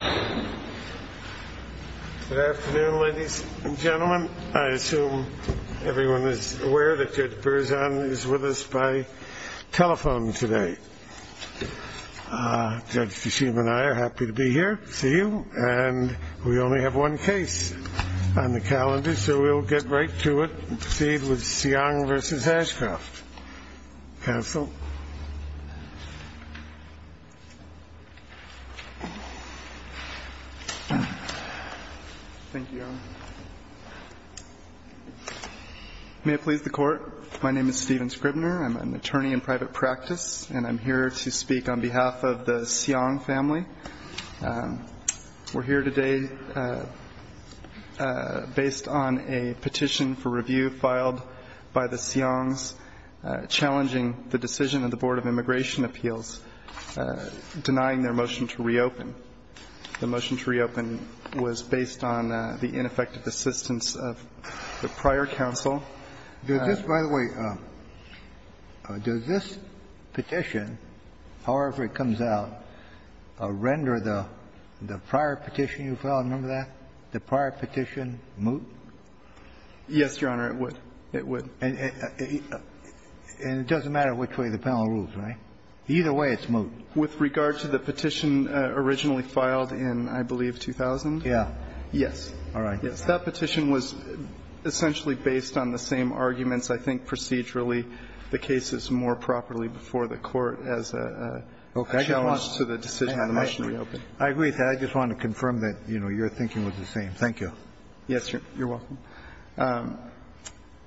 Good afternoon, ladies and gentlemen. I assume everyone is aware that Judge Berzon is with us by telephone today. Judge Feshim and I are happy to be here to see you, and we only have one case on the calendar, so we'll get right to it and proceed with Siong v. Ashcroft. Counsel. Thank you, Your Honor. May it please the Court, my name is Stephen Scribner. I'm an attorney in private practice, and I'm here to speak on behalf of the Siong family. We're here today based on a petition for review filed by the Siongs family, challenging the decision of the Board of Immigration Appeals denying their motion to reopen. The motion to reopen was based on the ineffective assistance of the prior counsel. By the way, does this petition, however it comes out, render the prior petition you filed, remember that, the prior petition moot? Yes, Your Honor, it would. It would. And it doesn't matter which way the panel moves, right? Either way, it's moot. With regard to the petition originally filed in, I believe, 2000? Yeah. Yes. All right. Yes. That petition was essentially based on the same arguments, I think procedurally, the cases more properly before the Court as a challenge to the decision of the motion to reopen. I agree with that. I just wanted to confirm that, you know, your thinking was the same. Thank you. Yes, Your Honor. You're welcome.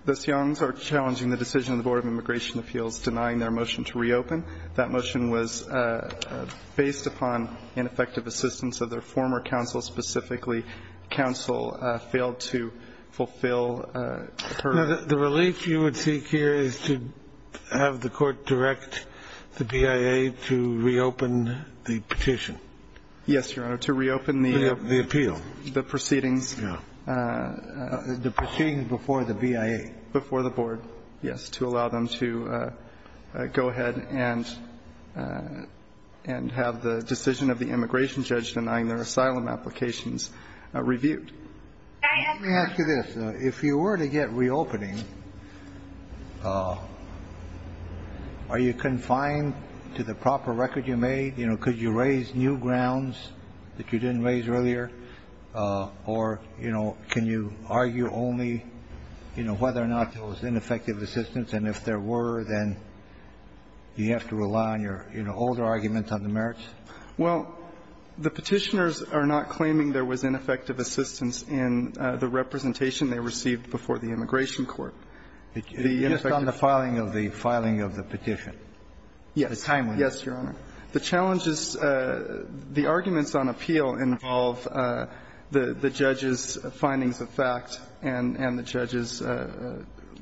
Those youngs are challenging the decision of the Board of Immigration Appeals denying their motion to reopen. That motion was based upon ineffective assistance of their former counsel. Specifically, counsel failed to fulfill her. The relief you would seek here is to have the Court direct the BIA to reopen the petition. Yes, Your Honor, to reopen the appeal. The proceedings. Yeah. The proceedings before the BIA. Before the Board, yes, to allow them to go ahead and have the decision of the immigration judge denying their asylum applications reviewed. Let me ask you this. If you were to get reopening, are you confined to the proper record you made? You know, could you raise new grounds that you didn't raise earlier? Or, you know, can you argue only, you know, whether or not there was ineffective assistance? And if there were, then do you have to rely on your, you know, older arguments on the merits? Well, the Petitioners are not claiming there was ineffective assistance in the representation they received before the Immigration Court. Just on the filing of the petition. Yes. At the time. Yes, Your Honor. The challenges, the arguments on appeal involve the judge's findings of fact and the judge's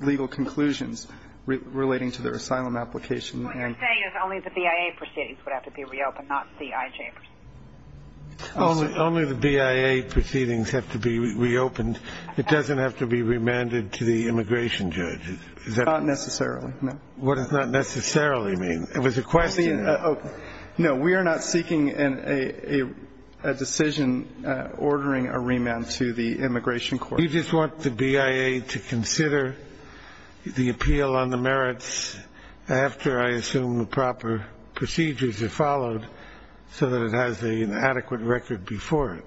legal conclusions relating to their asylum application. What you're saying is only the BIA proceedings would have to be reopened, not C.I.J. Only the BIA proceedings have to be reopened. It doesn't have to be remanded to the immigration judge. Not necessarily, no. What does not necessarily mean? It was a question. No, we are not seeking a decision ordering a remand to the Immigration Court. You just want the BIA to consider the appeal on the merits after, I assume, the proper procedures are followed so that it has an adequate record before it.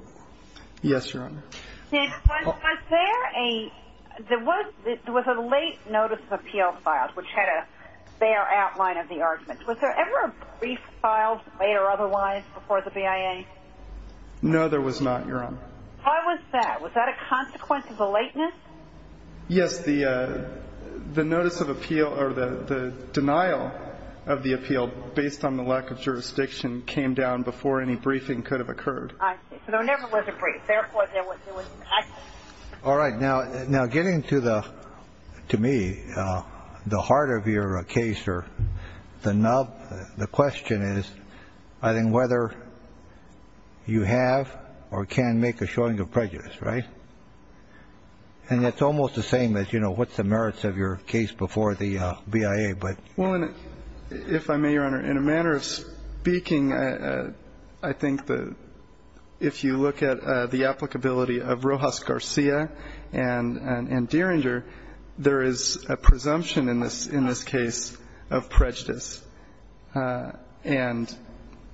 Yes, Your Honor. Was there a late notice of appeal filed which had a fair outline of the arguments? Was there ever a brief filed, late or otherwise, before the BIA? No, there was not, Your Honor. Why was that? Was that a consequence of the lateness? Yes, the notice of appeal or the denial of the appeal based on the lack of jurisdiction came down before any briefing could have occurred. I see. So there never was a brief. Therefore, there was no action. All right. Now, getting to me, the heart of your case or the nub, the question is, I think, whether you have or can make a showing of prejudice, right? And it's almost the same as, you know, what's the merits of your case before the BIA. Well, if I may, Your Honor, in a manner of speaking, I think that if you look at the applicability of Rojas Garcia and Dieringer, there is a presumption in this case of prejudice. And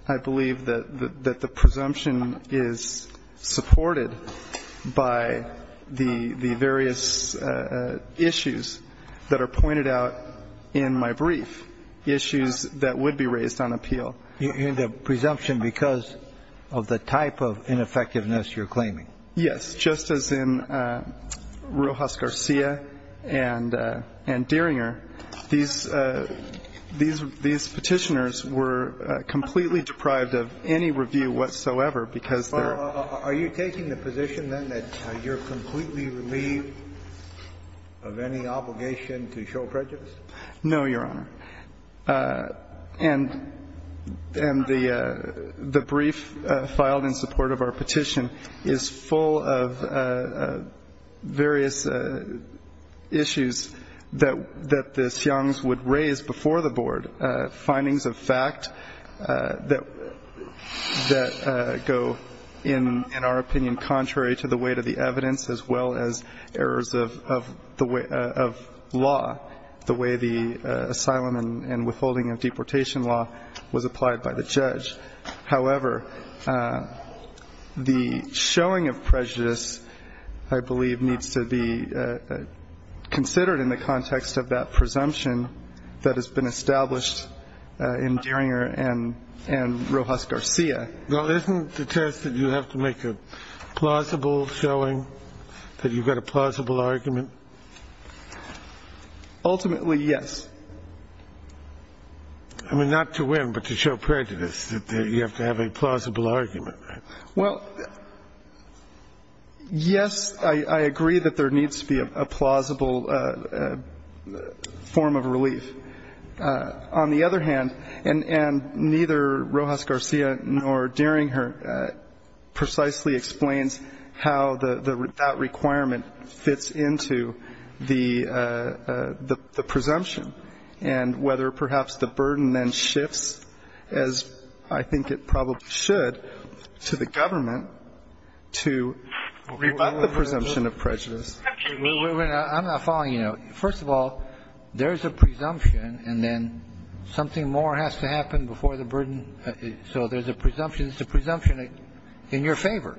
I believe that the presumption is supported by the various issues that are pointed out in my brief, issues that would be raised on appeal. You mean the presumption because of the type of ineffectiveness you're claiming? Yes. Just as in Rojas Garcia and Dieringer, these Petitioners were completely deprived of any review whatsoever because they're... Are you taking the position, then, that you're completely relieved of any obligation to show prejudice? No, Your Honor. And the brief filed in support of our petition is full of various issues that the Siongs would raise before the Board, findings of fact that go, in our opinion, contrary to the weight of the evidence, as well as errors of law, the way the asylum and withholding of deportation law was applied by the judge. However, the showing of prejudice, I believe, needs to be considered in the context of that presumption that has been established in Dieringer and Rojas Garcia. Well, isn't the test that you have to make a plausible showing, that you've got a plausible argument? Ultimately, yes. I mean, not to win, but to show prejudice, that you have to have a plausible argument, right? Well, yes, I agree that there needs to be a plausible form of relief. On the other hand, and neither Rojas Garcia nor Dieringer precisely explains how that requirement fits into the presumption and whether perhaps the burden then shifts, as I think it probably should, to the government to revoke the presumption of prejudice. I'm not following you. First of all, there's a presumption, and then something more has to happen before the burden. So there's a presumption. It's a presumption in your favor.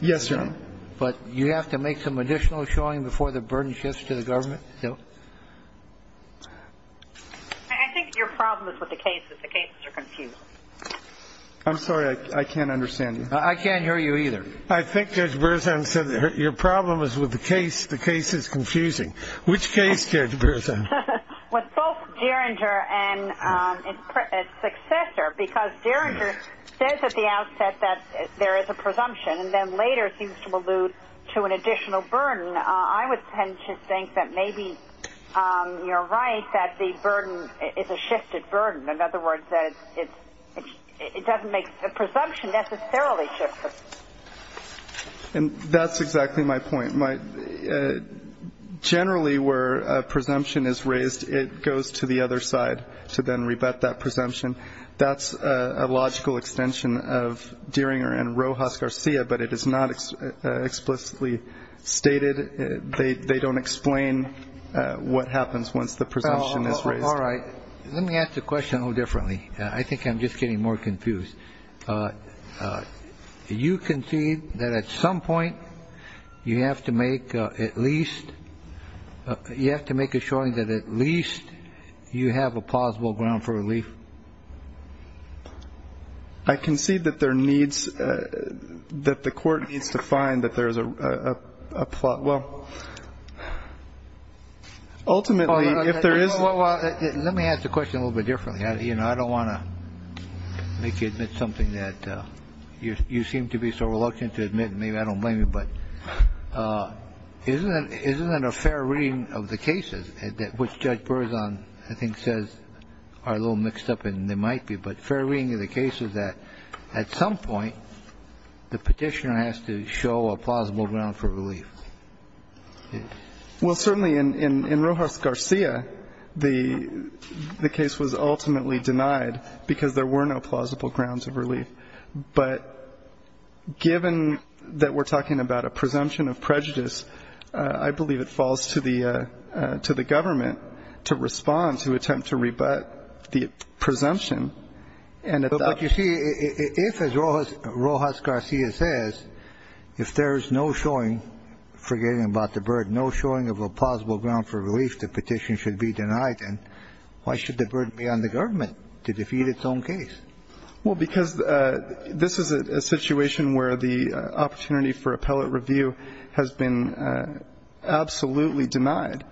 Yes, Your Honor. But you have to make some additional showing before the burden shifts to the government? No. I think your problem is with the cases. The cases are confusing. I'm sorry, I can't understand you. I can't hear you either. I think Judge Berzahn said your problem is with the case. The case is confusing. Which case, Judge Berzahn? Well, both Dieringer and his successor, because Dieringer says at the outset that there is a presumption and then later seems to allude to an additional burden. I would tend to think that maybe you're right, that the burden is a shifted burden. In other words, it doesn't make the presumption necessarily shifted. And that's exactly my point. Generally where a presumption is raised, it goes to the other side to then rebut that presumption. That's a logical extension of Dieringer and Rojas Garcia, but it is not explicitly stated. They don't explain what happens once the presumption is raised. All right. Let me ask the question a little differently. I think I'm just getting more confused. You concede that at some point you have to make at least you have to make a showing that at least you have a I concede that there needs that the court needs to find that there is a plot. Well, ultimately, if there is. Well, let me ask the question a little bit differently. You know, I don't want to make you admit something that you seem to be so reluctant to admit. Maybe I don't blame you. But isn't that isn't that a fair reading of the cases that which Judge Burzon, I think, says are a little mixed up and they might be. But fair reading of the case is that at some point the petitioner has to show a plausible ground for relief. Well, certainly in Rojas Garcia, the case was ultimately denied because there were no plausible grounds of relief. But given that we're talking about a presumption of prejudice, I believe it falls to the to the government to respond, to attempt to rebut the presumption. And you see, if as Rojas Garcia says, if there is no showing forgetting about the bird, no showing of a plausible ground for relief, the petition should be denied. And why should the bird be on the government to defeat its own case? Well, because this is a situation where the opportunity for appellate review has been absolutely denied.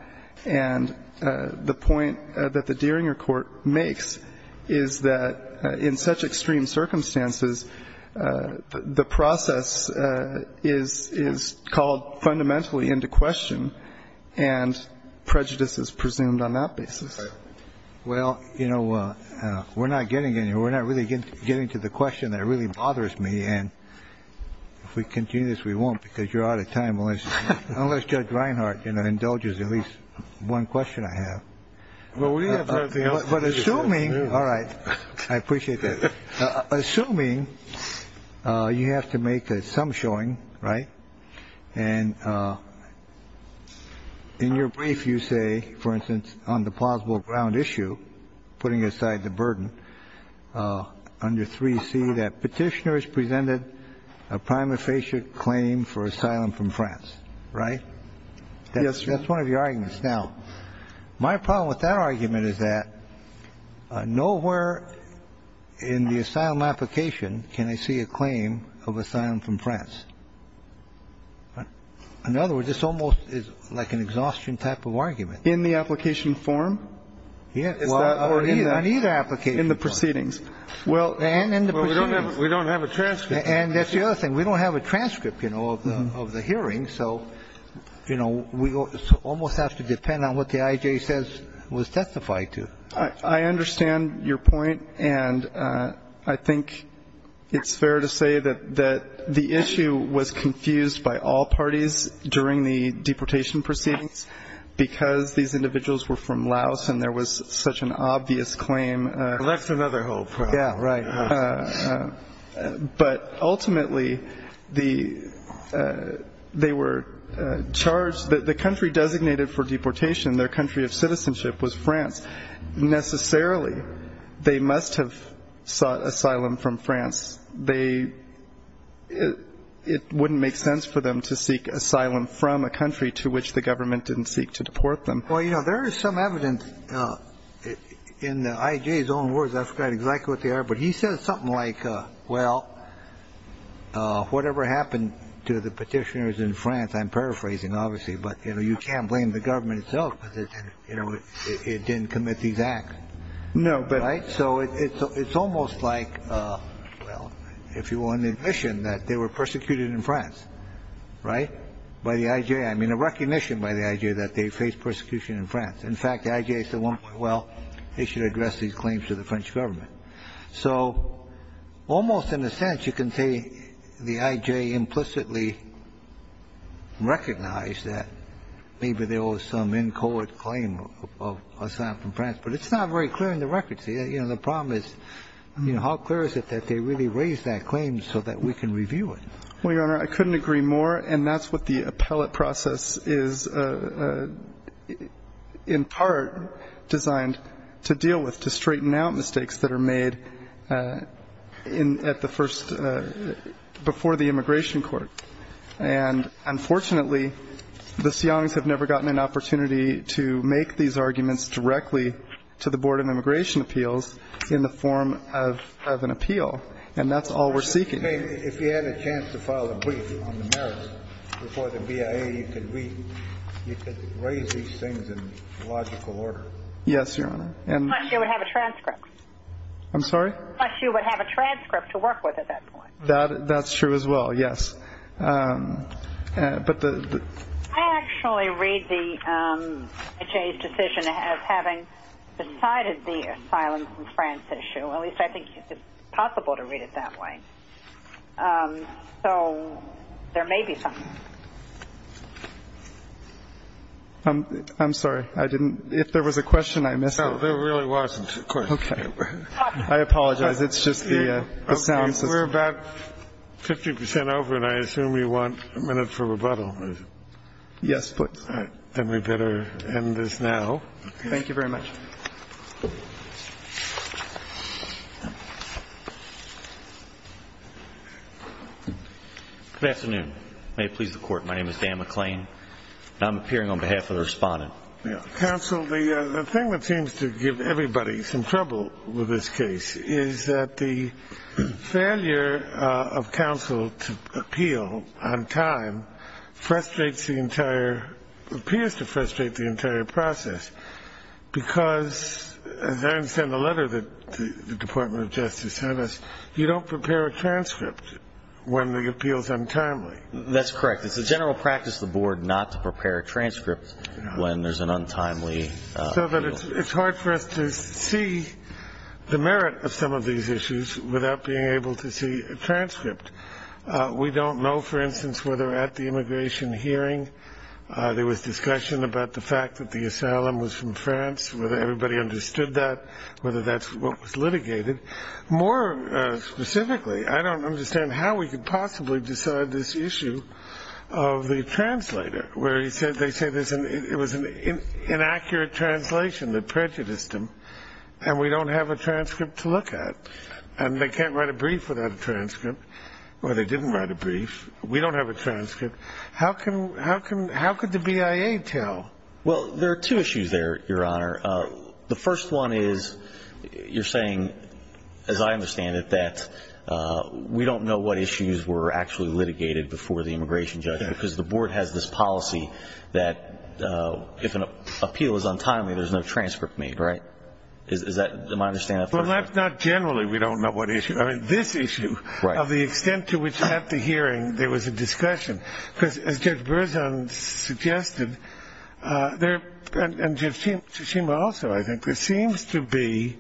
And the point that the Deeringer court makes is that in such extreme circumstances, the process is is called fundamentally into question and prejudice is presumed on that basis. Well, you know, we're not getting any. We're not really getting to the question that really bothers me. And if we continue this, we won't, because you're out of time. Unless unless Judge Reinhart indulges at least one question I have. Well, we have the assuming. All right. I appreciate that. Assuming you have to make some showing. Right. And in your brief, you say, for instance, on the plausible ground issue, putting aside the burden under 3C, that petitioners presented a prima facie claim for asylum from France. Right. Yes. That's one of your arguments. Now, my problem with that argument is that nowhere in the asylum application can I see a claim of asylum from France. In other words, this almost is like an exhaustion type of argument. In the application form? Yeah. In the proceedings. Well, and in the proceedings. We don't have a transcript. And that's the other thing. We don't have a transcript, you know, of the hearing. So, you know, we almost have to depend on what the IJ says was testified to. I understand your point. And I think it's fair to say that that the issue was confused by all parties during the deportation proceedings, because these individuals were from Laos and there was such an obvious claim. That's another whole problem. Yeah, right. But ultimately, the they were charged that the country designated for deportation, their country of citizenship was France. Necessarily, they must have sought asylum from France. They it wouldn't make sense for them to seek asylum from a country to which the government didn't seek to deport them. Well, you know, there is some evidence in the IJ's own words. I've got exactly what they are. But he says something like, well, whatever happened to the petitioners in France. I'm paraphrasing, obviously, but, you know, you can't blame the government itself. You know, it didn't commit these acts. No. Right. So it's almost like, well, if you want admission that they were persecuted in France. Right. By the IJ. I mean, a recognition by the IJ that they face persecution in France. In fact, the IJ said, well, they should address these claims to the French government. So almost in a sense, you can say the IJ implicitly recognized that maybe there was some inchoate claim of asylum from France. But it's not very clear in the records. You know, the problem is, you know, how clear is it that they really raised that claim so that we can review it? Well, Your Honor, I couldn't agree more. And that's what the appellate process is, in part, designed to deal with, to straighten out mistakes that are made in at the first before the immigration court. And unfortunately, the Seans have never gotten an opportunity to make these arguments directly to the Board of Immigration Appeals in the form of an appeal. And that's all we're seeking. If you had a chance to file a brief on the merits before the BIA, you could raise these things in logical order. Yes, Your Honor. Plus you would have a transcript. I'm sorry? Plus you would have a transcript to work with at that point. That's true as well, yes. I actually read the HA's decision as having decided the asylum from France issue. At least I think it's possible to read it that way. So there may be something. I'm sorry. If there was a question, I missed it. No, there really wasn't a question. Okay. I apologize. It's just the sound system. We're about 50% over, and I assume you want a minute for rebuttal. Yes, please. Then we better end this now. Thank you very much. Good afternoon. May it please the Court. My name is Dan McClain, and I'm appearing on behalf of the Respondent. Counsel, the thing that seems to give everybody some trouble with this case is that the failure of counsel to appeal on time frustrates the entire, appears to frustrate the entire process, because as I understand the letter that the Department of Justice sent us, you don't prepare a transcript when the appeal is untimely. That's correct. It's a general practice of the Board not to prepare a transcript when there's an untimely appeal. It's hard for us to see the merit of some of these issues without being able to see a transcript. We don't know, for instance, whether at the immigration hearing there was discussion about the fact that the asylum was from France, whether everybody understood that, whether that's what was litigated. More specifically, I don't understand how we could possibly decide this issue of the translator, where they say it was an inaccurate translation that prejudiced them, and we don't have a transcript to look at. And they can't write a brief without a transcript, or they didn't write a brief. We don't have a transcript. How could the BIA tell? Well, there are two issues there, Your Honor. The first one is you're saying, as I understand it, that we don't know what issues were actually litigated before the immigration judge because the Board has this policy that if an appeal is untimely, there's no transcript made, right? Is that my understanding? Well, that's not generally we don't know what issue. I mean, this issue of the extent to which at the hearing there was a discussion, because as Judge Berzon suggested, and Judge Tsushima also, I think, there seems to be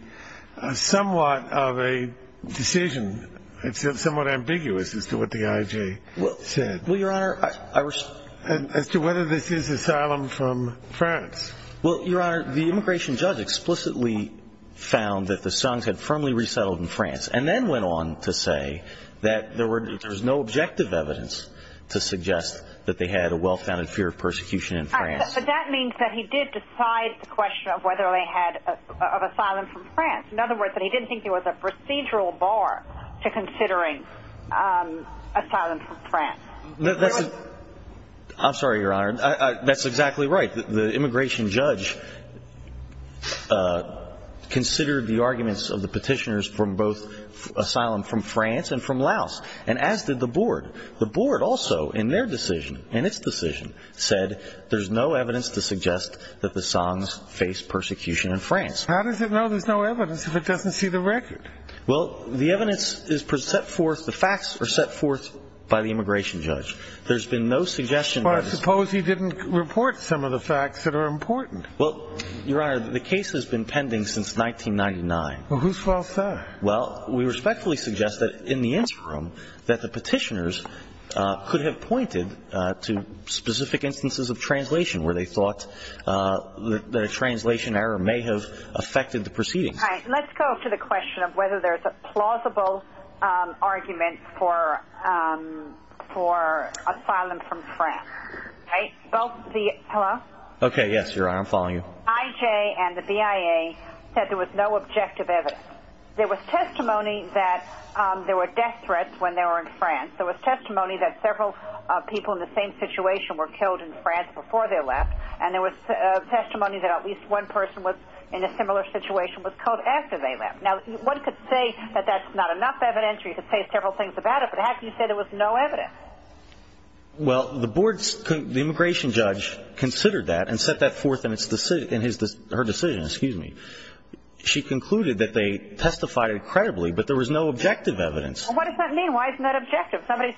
somewhat of a decision. It's somewhat ambiguous as to what the IJ said as to whether this is asylum from France. Well, Your Honor, the immigration judge explicitly found that the Songs had firmly resettled in France and then went on to say that there was no objective evidence to suggest that they had a well-founded fear of persecution in France. But that means that he did decide the question of whether they had asylum from France. In other words, that he didn't think there was a procedural bar to considering asylum from France. I'm sorry, Your Honor. That's exactly right. The immigration judge considered the arguments of the petitioners from both asylum from France and from Laos, and as did the board. The board also in their decision, in its decision, said there's no evidence to suggest that the Songs faced persecution in France. How does it know there's no evidence if it doesn't see the record? Well, the evidence is set forth, the facts are set forth by the immigration judge. Well, I suppose he didn't report some of the facts that are important. Well, Your Honor, the case has been pending since 1999. Well, who's fault is that? Well, we respectfully suggest that in the interim that the petitioners could have pointed to specific instances of translation where they thought that a translation error may have affected the proceedings. All right, let's go to the question of whether there's a plausible argument for asylum from France. Hello? Okay, yes, Your Honor, I'm following you. IJ and the BIA said there was no objective evidence. There was testimony that there were death threats when they were in France. There was testimony that several people in the same situation were killed in France before they left. And there was testimony that at least one person in a similar situation was killed after they left. Now, one could say that that's not enough evidence or you could say several things about it, but how can you say there was no evidence? Well, the immigration judge considered that and set that forth in her decision. She concluded that they testified incredibly, but there was no objective evidence. Well, what does that mean? Why isn't that objective? Why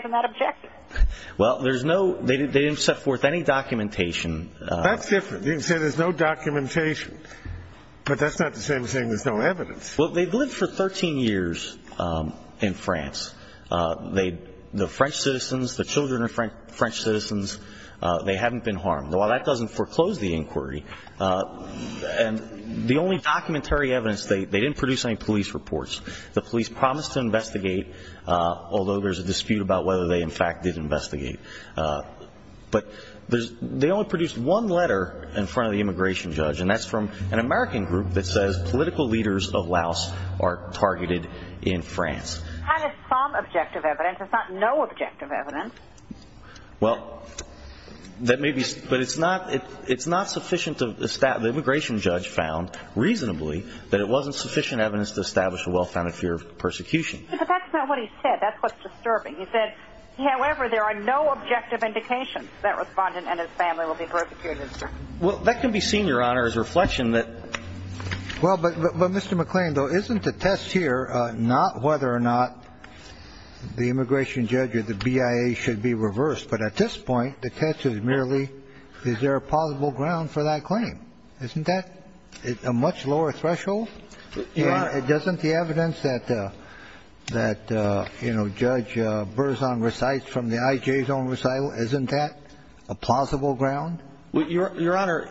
isn't that objective? Well, there's no they didn't set forth any documentation. That's different. You can say there's no documentation, but that's not the same as saying there's no evidence. Well, they've lived for 13 years in France. The French citizens, the children are French citizens. They haven't been harmed. While that doesn't foreclose the inquiry, and the only documentary evidence, they didn't produce any police reports. The police promised to investigate, although there's a dispute about whether they, in fact, did investigate. But they only produced one letter in front of the immigration judge, and that's from an American group that says political leaders of Laos are targeted in France. And it's some objective evidence. It's not no objective evidence. Well, that may be, but it's not sufficient. The immigration judge found reasonably that it wasn't sufficient evidence to establish a well-founded fear of persecution. But that's not what he said. That's what's disturbing. He said, however, there are no objective indications that Respondent and his family will be persecuted. Well, that can be seen, Your Honor, as a reflection that. Well, but, Mr. McClain, though, isn't the test here not whether or not the immigration judge or the BIA should be reversed? But at this point, the test is merely, is there a plausible ground for that claim? Isn't that a much lower threshold? And doesn't the evidence that, you know, Judge Berzon recites from the IJ's own recital, isn't that a plausible ground? Well, Your Honor,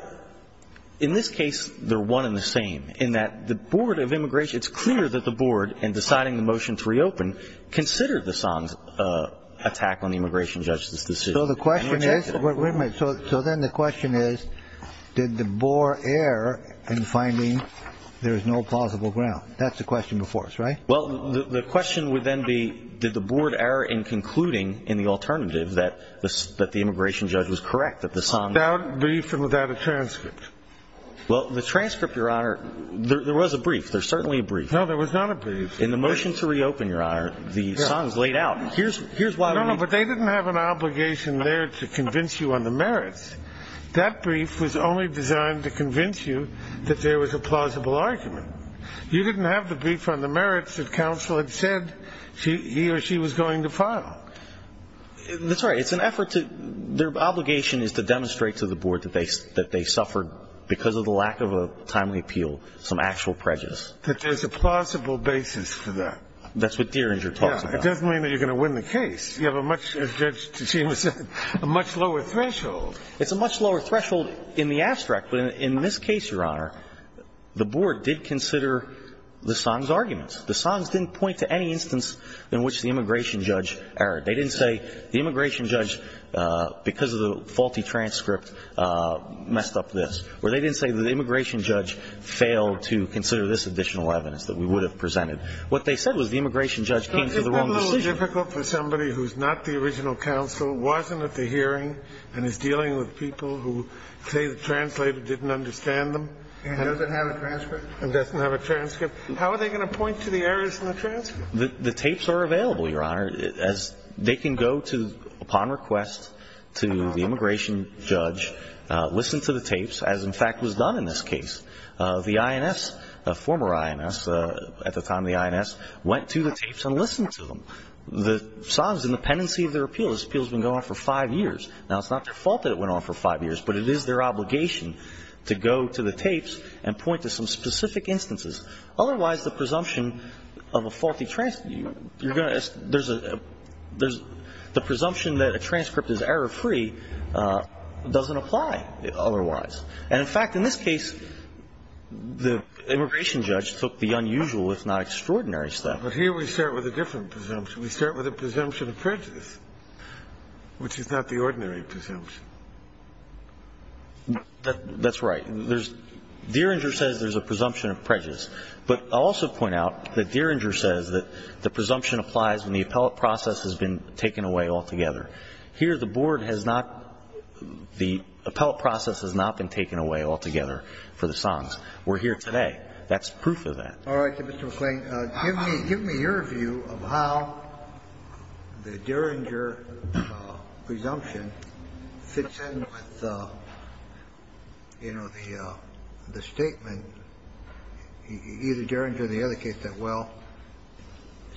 in this case, they're one and the same, in that the board of immigration, it's clear that the board, in deciding the motion to reopen, considered the song's attack on the immigration judge's decision. So the question is, wait a minute, so then the question is, did the board err in finding there is no plausible ground? That's the question before us, right? Well, the question would then be, did the board err in concluding in the alternative that the immigration judge was correct, that the song was correct? Without a brief and without a transcript. Well, the transcript, Your Honor, there was a brief. There's certainly a brief. No, there was not a brief. In the motion to reopen, Your Honor, the song's laid out. No, no, but they didn't have an obligation there to convince you on the merits. That brief was only designed to convince you that there was a plausible argument. You didn't have the brief on the merits that counsel had said he or she was going to file. That's right. It's an effort to ‑‑ their obligation is to demonstrate to the board that they suffered, because of the lack of a timely appeal, some actual prejudice. That there's a plausible basis for that. That's what Dieringer talks about. Yeah. It doesn't mean that you're going to win the case. You have a much, as Judge Tejima said, a much lower threshold. It's a much lower threshold in the abstract, but in this case, Your Honor, the board did consider the song's arguments. The song's didn't point to any instance in which the immigration judge erred. They didn't say the immigration judge, because of the faulty transcript, messed up this. Or they didn't say that the immigration judge failed to consider this additional evidence that we would have presented. What they said was the immigration judge came to the wrong decision. Well, isn't that a little difficult for somebody who's not the original counsel, wasn't at the hearing, and is dealing with people who say the translator didn't understand them? And doesn't have a transcript. How are they going to point to the errors in the transcript? The tapes are available, Your Honor. They can go to, upon request, to the immigration judge, listen to the tapes, as, in fact, was done in this case. The INS, the former INS, at the time of the INS, went to the tapes and listened to them. The song's in the pendency of their appeal. This appeal's been going on for five years. Now, it's not their fault that it went on for five years, but it is their obligation to go to the tapes and point to some specific instances. Otherwise, the presumption of a faulty transcript, there's a presumption that a transcript is error-free doesn't apply otherwise. And, in fact, in this case, the immigration judge took the unusual, if not extraordinary, step. But here we start with a different presumption. We start with a presumption of prejudice, which is not the ordinary presumption. That's right. There's – Deringer says there's a presumption of prejudice. But I'll also point out that Deringer says that the presumption applies when the appellate process has been taken away altogether. Here, the board has not – the appellate process has not been taken away altogether for the songs. We're here today. That's proof of that. All right, Mr. McClain. Give me your view of how the Deringer presumption fits in with, you know, the statement either Deringer or the other case that, well,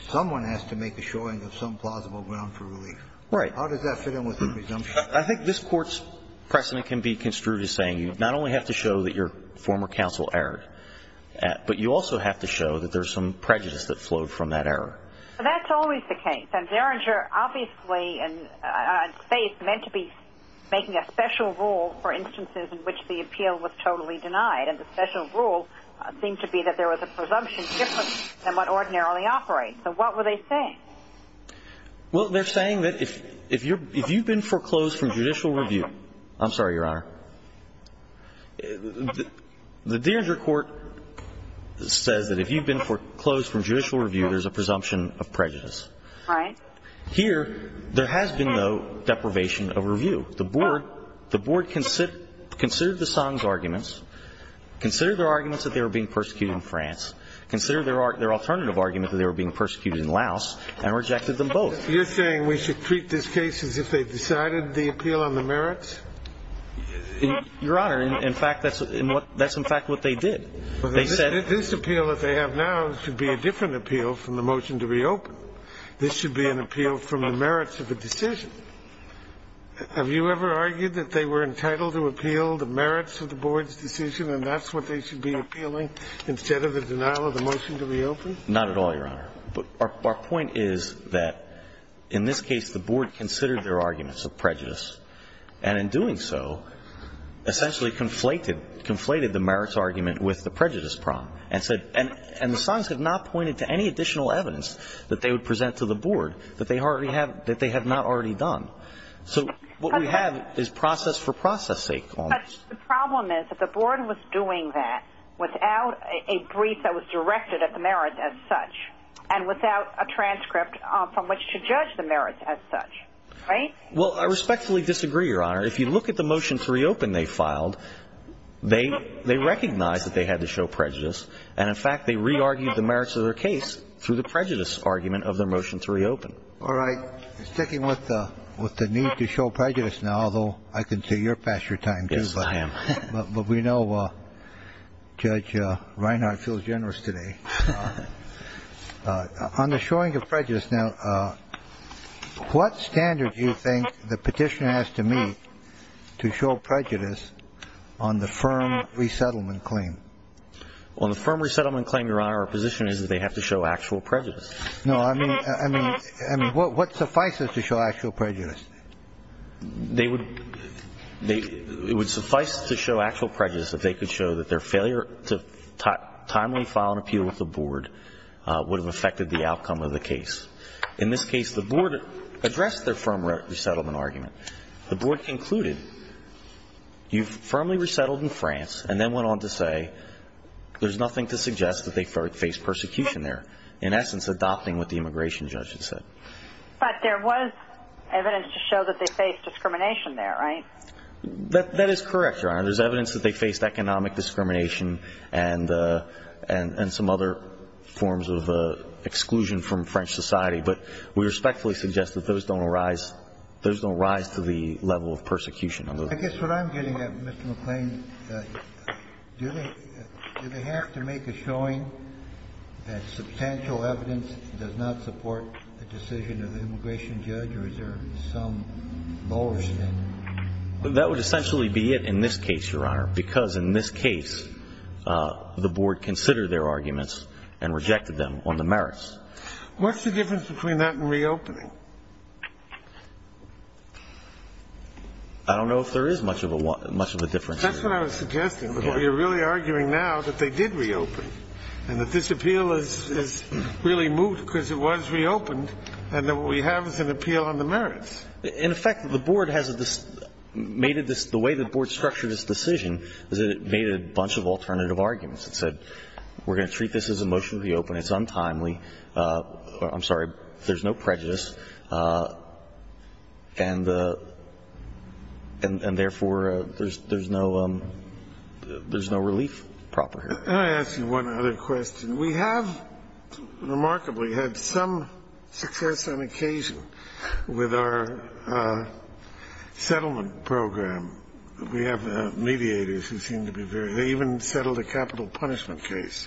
someone has to make a showing of some plausible ground for relief. Right. How does that fit in with the presumption? I think this Court's precedent can be construed as saying you not only have to show that your former counsel erred, but you also have to show that there's some prejudice that flowed from that error. That's always the case. And Deringer obviously – I'd say it's meant to be making a special rule for instances in which the appeal was totally denied. And the special rule seemed to be that there was a presumption different than what ordinarily operates. So what were they saying? Well, they're saying that if you've been foreclosed from judicial review – I'm sorry, Your Honor. The Deringer Court says that if you've been foreclosed from judicial review, there's a presumption of prejudice. All right. Here, there has been, though, deprivation of review. The Board considered the Song's arguments, considered their arguments that they were being persecuted in France, considered their alternative argument that they were being persecuted in Laos, and rejected them both. You're saying we should treat this case as if they decided the appeal on the merits? Your Honor, in fact, that's in fact what they did. They said – This appeal that they have now should be a different appeal from the motion to reopen. This should be an appeal from the merits of the decision. Have you ever argued that they were entitled to appeal the merits of the Board's decision and that's what they should be appealing instead of the denial of the motion to reopen? Not at all, Your Honor. Our point is that in this case the Board considered their arguments of prejudice and in doing so essentially conflated the merits argument with the prejudice problem and the Song's have not pointed to any additional evidence that they would present to the Board that they have not already done. So what we have is process for process sake. But the problem is that the Board was doing that without a brief that was directed at the merits as such and without a transcript from which to judge the merits as such, right? Well, I respectfully disagree, Your Honor. If you look at the motion to reopen they filed, they recognized that they had to show prejudice and in fact they re-argued the merits of their case through the prejudice argument of their motion to reopen. All right. Sticking with the need to show prejudice now, although I can see you're past your time too. Yes, I am. But we know Judge Reinhart feels generous today. On the showing of prejudice now, what standard do you think the petitioner has to meet to show prejudice on the firm resettlement claim? On the firm resettlement claim, Your Honor, our position is that they have to show actual prejudice. No. I mean, what suffices to show actual prejudice? It would suffice to show actual prejudice if they could show that their failure to timely file an appeal with the Board would have affected the outcome of the case. In this case, the Board addressed their firm resettlement argument. The Board concluded you firmly resettled in France and then went on to say there's nothing to suggest that they faced persecution there. In essence, adopting what the immigration judge had said. But there was evidence to show that they faced discrimination there, right? That is correct, Your Honor. There's evidence that they faced economic discrimination and some other forms of exclusion from French society. But we respectfully suggest that those don't arise to the level of persecution. I guess what I'm getting at, Mr. McLean, do they have to make a showing that substantial evidence does not support the decision of the immigration judge or is there some lower standard? That would essentially be it in this case, Your Honor, because in this case the Board considered their arguments and rejected them on the merits. What's the difference between that and reopening? I don't know if there is much of a difference here. That's what I was suggesting. You're really arguing now that they did reopen and that this appeal is really moved because it was reopened and that what we have is an appeal on the merits. In effect, the Board has made it this the way the Board structured its decision is that it made a bunch of alternative arguments. It said we're going to treat this as a motion to reopen. It's untimely. I'm sorry. There's no prejudice. And, therefore, there's no relief proper here. Let me ask you one other question. We have remarkably had some success on occasion with our settlement program. We have mediators who seem to be very – they even settled a capital punishment case,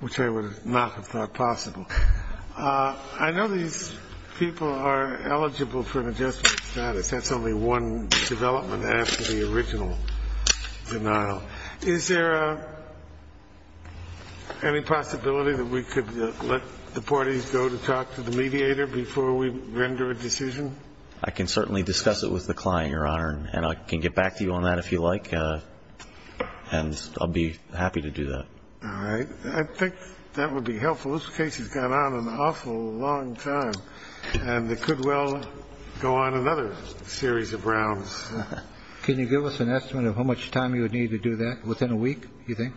which I would not have thought possible. I know these people are eligible for an adjustment status. That's only one development after the original denial. Is there any possibility that we could let the parties go to talk to the mediator before we render a decision? I can certainly discuss it with the client, Your Honor, and I can get back to you on that if you like. And I'll be happy to do that. All right. I think that would be helpful. Well, this case has gone on an awful long time, and it could well go on another series of rounds. Can you give us an estimate of how much time you would need to do that within a week, you think?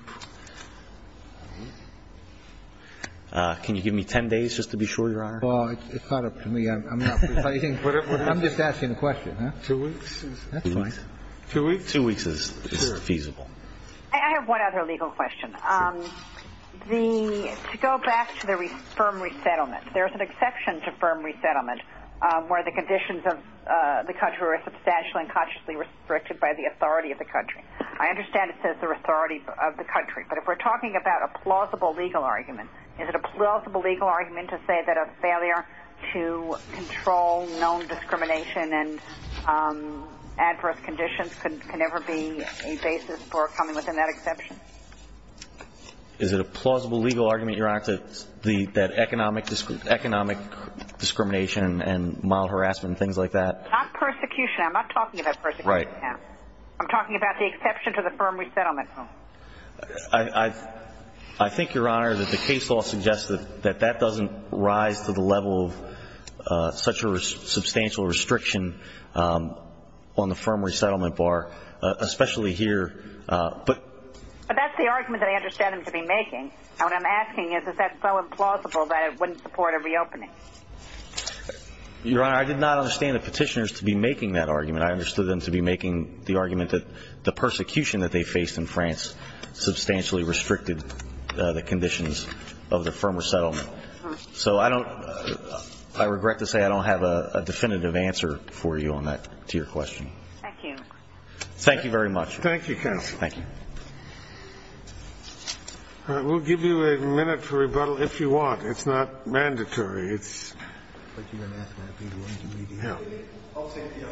Can you give me 10 days just to be sure, Your Honor? Well, it's not up to me. I'm just asking a question. Two weeks? That's fine. Two weeks is feasible. I have one other legal question. To go back to the firm resettlement, there's an exception to firm resettlement where the conditions of the country are substantially and consciously restricted by the authority of the country. I understand it says the authority of the country, but if we're talking about a plausible legal argument, is it a plausible legal argument to say that a failure to control known discrimination and adverse conditions can never be a basis for coming within that exception? Is it a plausible legal argument, Your Honor, that economic discrimination and mild harassment and things like that? Not persecution. I'm not talking about persecution. Right. I'm talking about the exception to the firm resettlement. I think, Your Honor, that the case law suggests that that doesn't rise to the level of such a substantial restriction on the firm resettlement bar, especially here. But that's the argument that I understand them to be making. What I'm asking is, is that so implausible that it wouldn't support a reopening? Your Honor, I did not understand the petitioners to be making that argument. I understood them to be making the argument that the persecution that they faced in France substantially restricted the conditions of the firm resettlement. So I don't ‑‑ I regret to say I don't have a definitive answer for you on that to your question. Thank you. Thank you very much. Thank you, counsel. Thank you. We'll give you a minute for rebuttal if you want. It's not mandatory. I'll take the opportunity.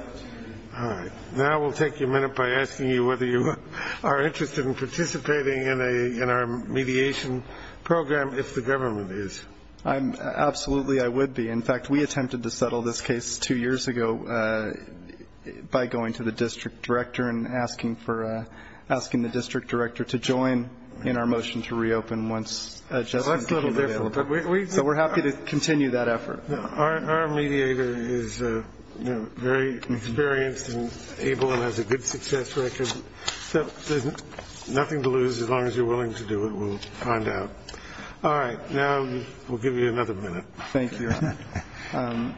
All right. Now we'll take a minute by asking you whether you are interested in participating in our mediation program if the government is. Absolutely I would be. In fact, we attempted to settle this case two years ago by going to the district director and asking the district director to join in our motion to reopen once a judgment became available. That's a little different. So we're happy to continue that effort. Our mediator is very experienced and able and has a good success record. So there's nothing to lose as long as you're willing to do it. We'll find out. All right. Now we'll give you another minute. Thank you, Your Honor.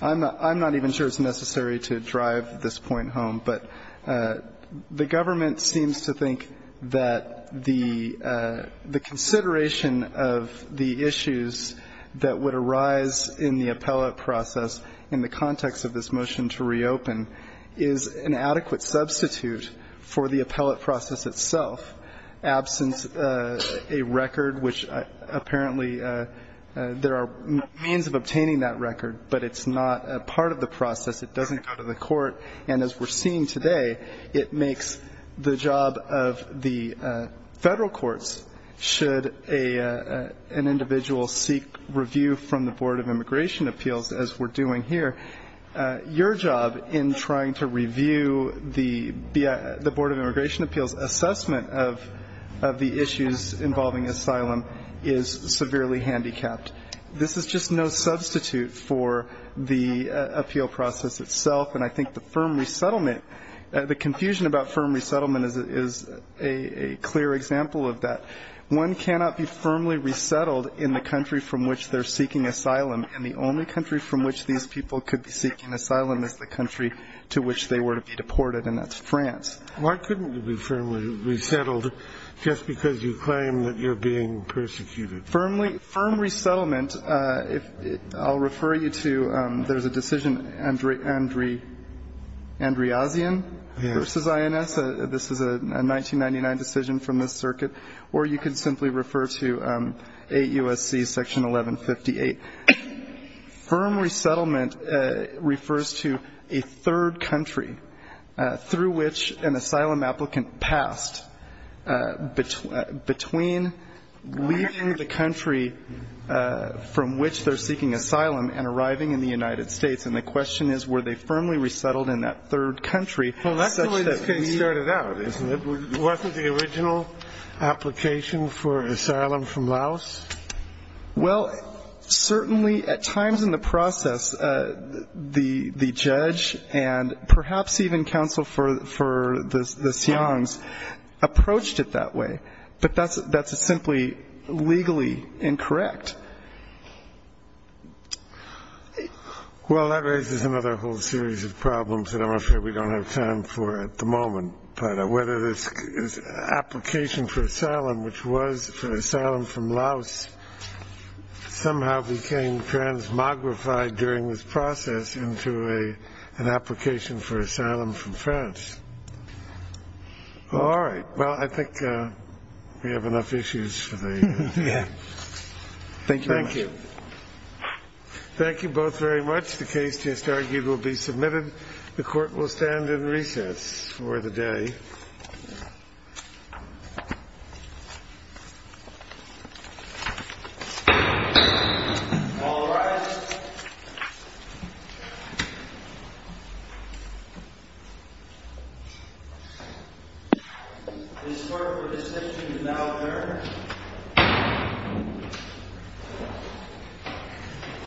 I'm not even sure it's necessary to drive this point home. But the government seems to think that the consideration of the issues that would arise in the appellate process in the context of this motion to reopen is an adequate substitute for the appellate process itself. Absence a record, which apparently there are means of obtaining that record, but it's not a part of the process. And as we're seeing today, it makes the job of the federal courts, should an individual seek review from the Board of Immigration Appeals, as we're doing here, your job in trying to review the Board of Immigration Appeals assessment of the issues involving asylum is severely handicapped. This is just no substitute for the appeal process itself. And I think the firm resettlement, the confusion about firm resettlement is a clear example of that. One cannot be firmly resettled in the country from which they're seeking asylum. And the only country from which these people could be seeking asylum is the country to which they were to be deported, and that's France. Why couldn't you be firmly resettled just because you claim that you're being persecuted? Firm resettlement, I'll refer you to, there's a decision, Andreazian v. INS. This is a 1999 decision from this circuit. Or you could simply refer to 8 U.S.C. Section 1158. Firm resettlement refers to a third country through which an asylum applicant passed, between leaving the country from which they're seeking asylum and arriving in the United States. And the question is, were they firmly resettled in that third country? Well, that's the way this case started out, isn't it? Wasn't the original application for asylum from Laos? Well, certainly at times in the process, the judge and perhaps even counsel for the Siangs approached it that way. But that's simply legally incorrect. Well, that raises another whole series of problems that I'm afraid we don't have time for at the moment. Part of whether this application for asylum, which was for asylum from Laos, somehow became transmogrified during this process into an application for asylum from France. All right. Well, I think we have enough issues for the day. Yeah. Thank you very much. Thank you. Thank you both very much. The case just argued will be submitted. The court will stand in recess for the day. All rise. This court for decision is now adjourned.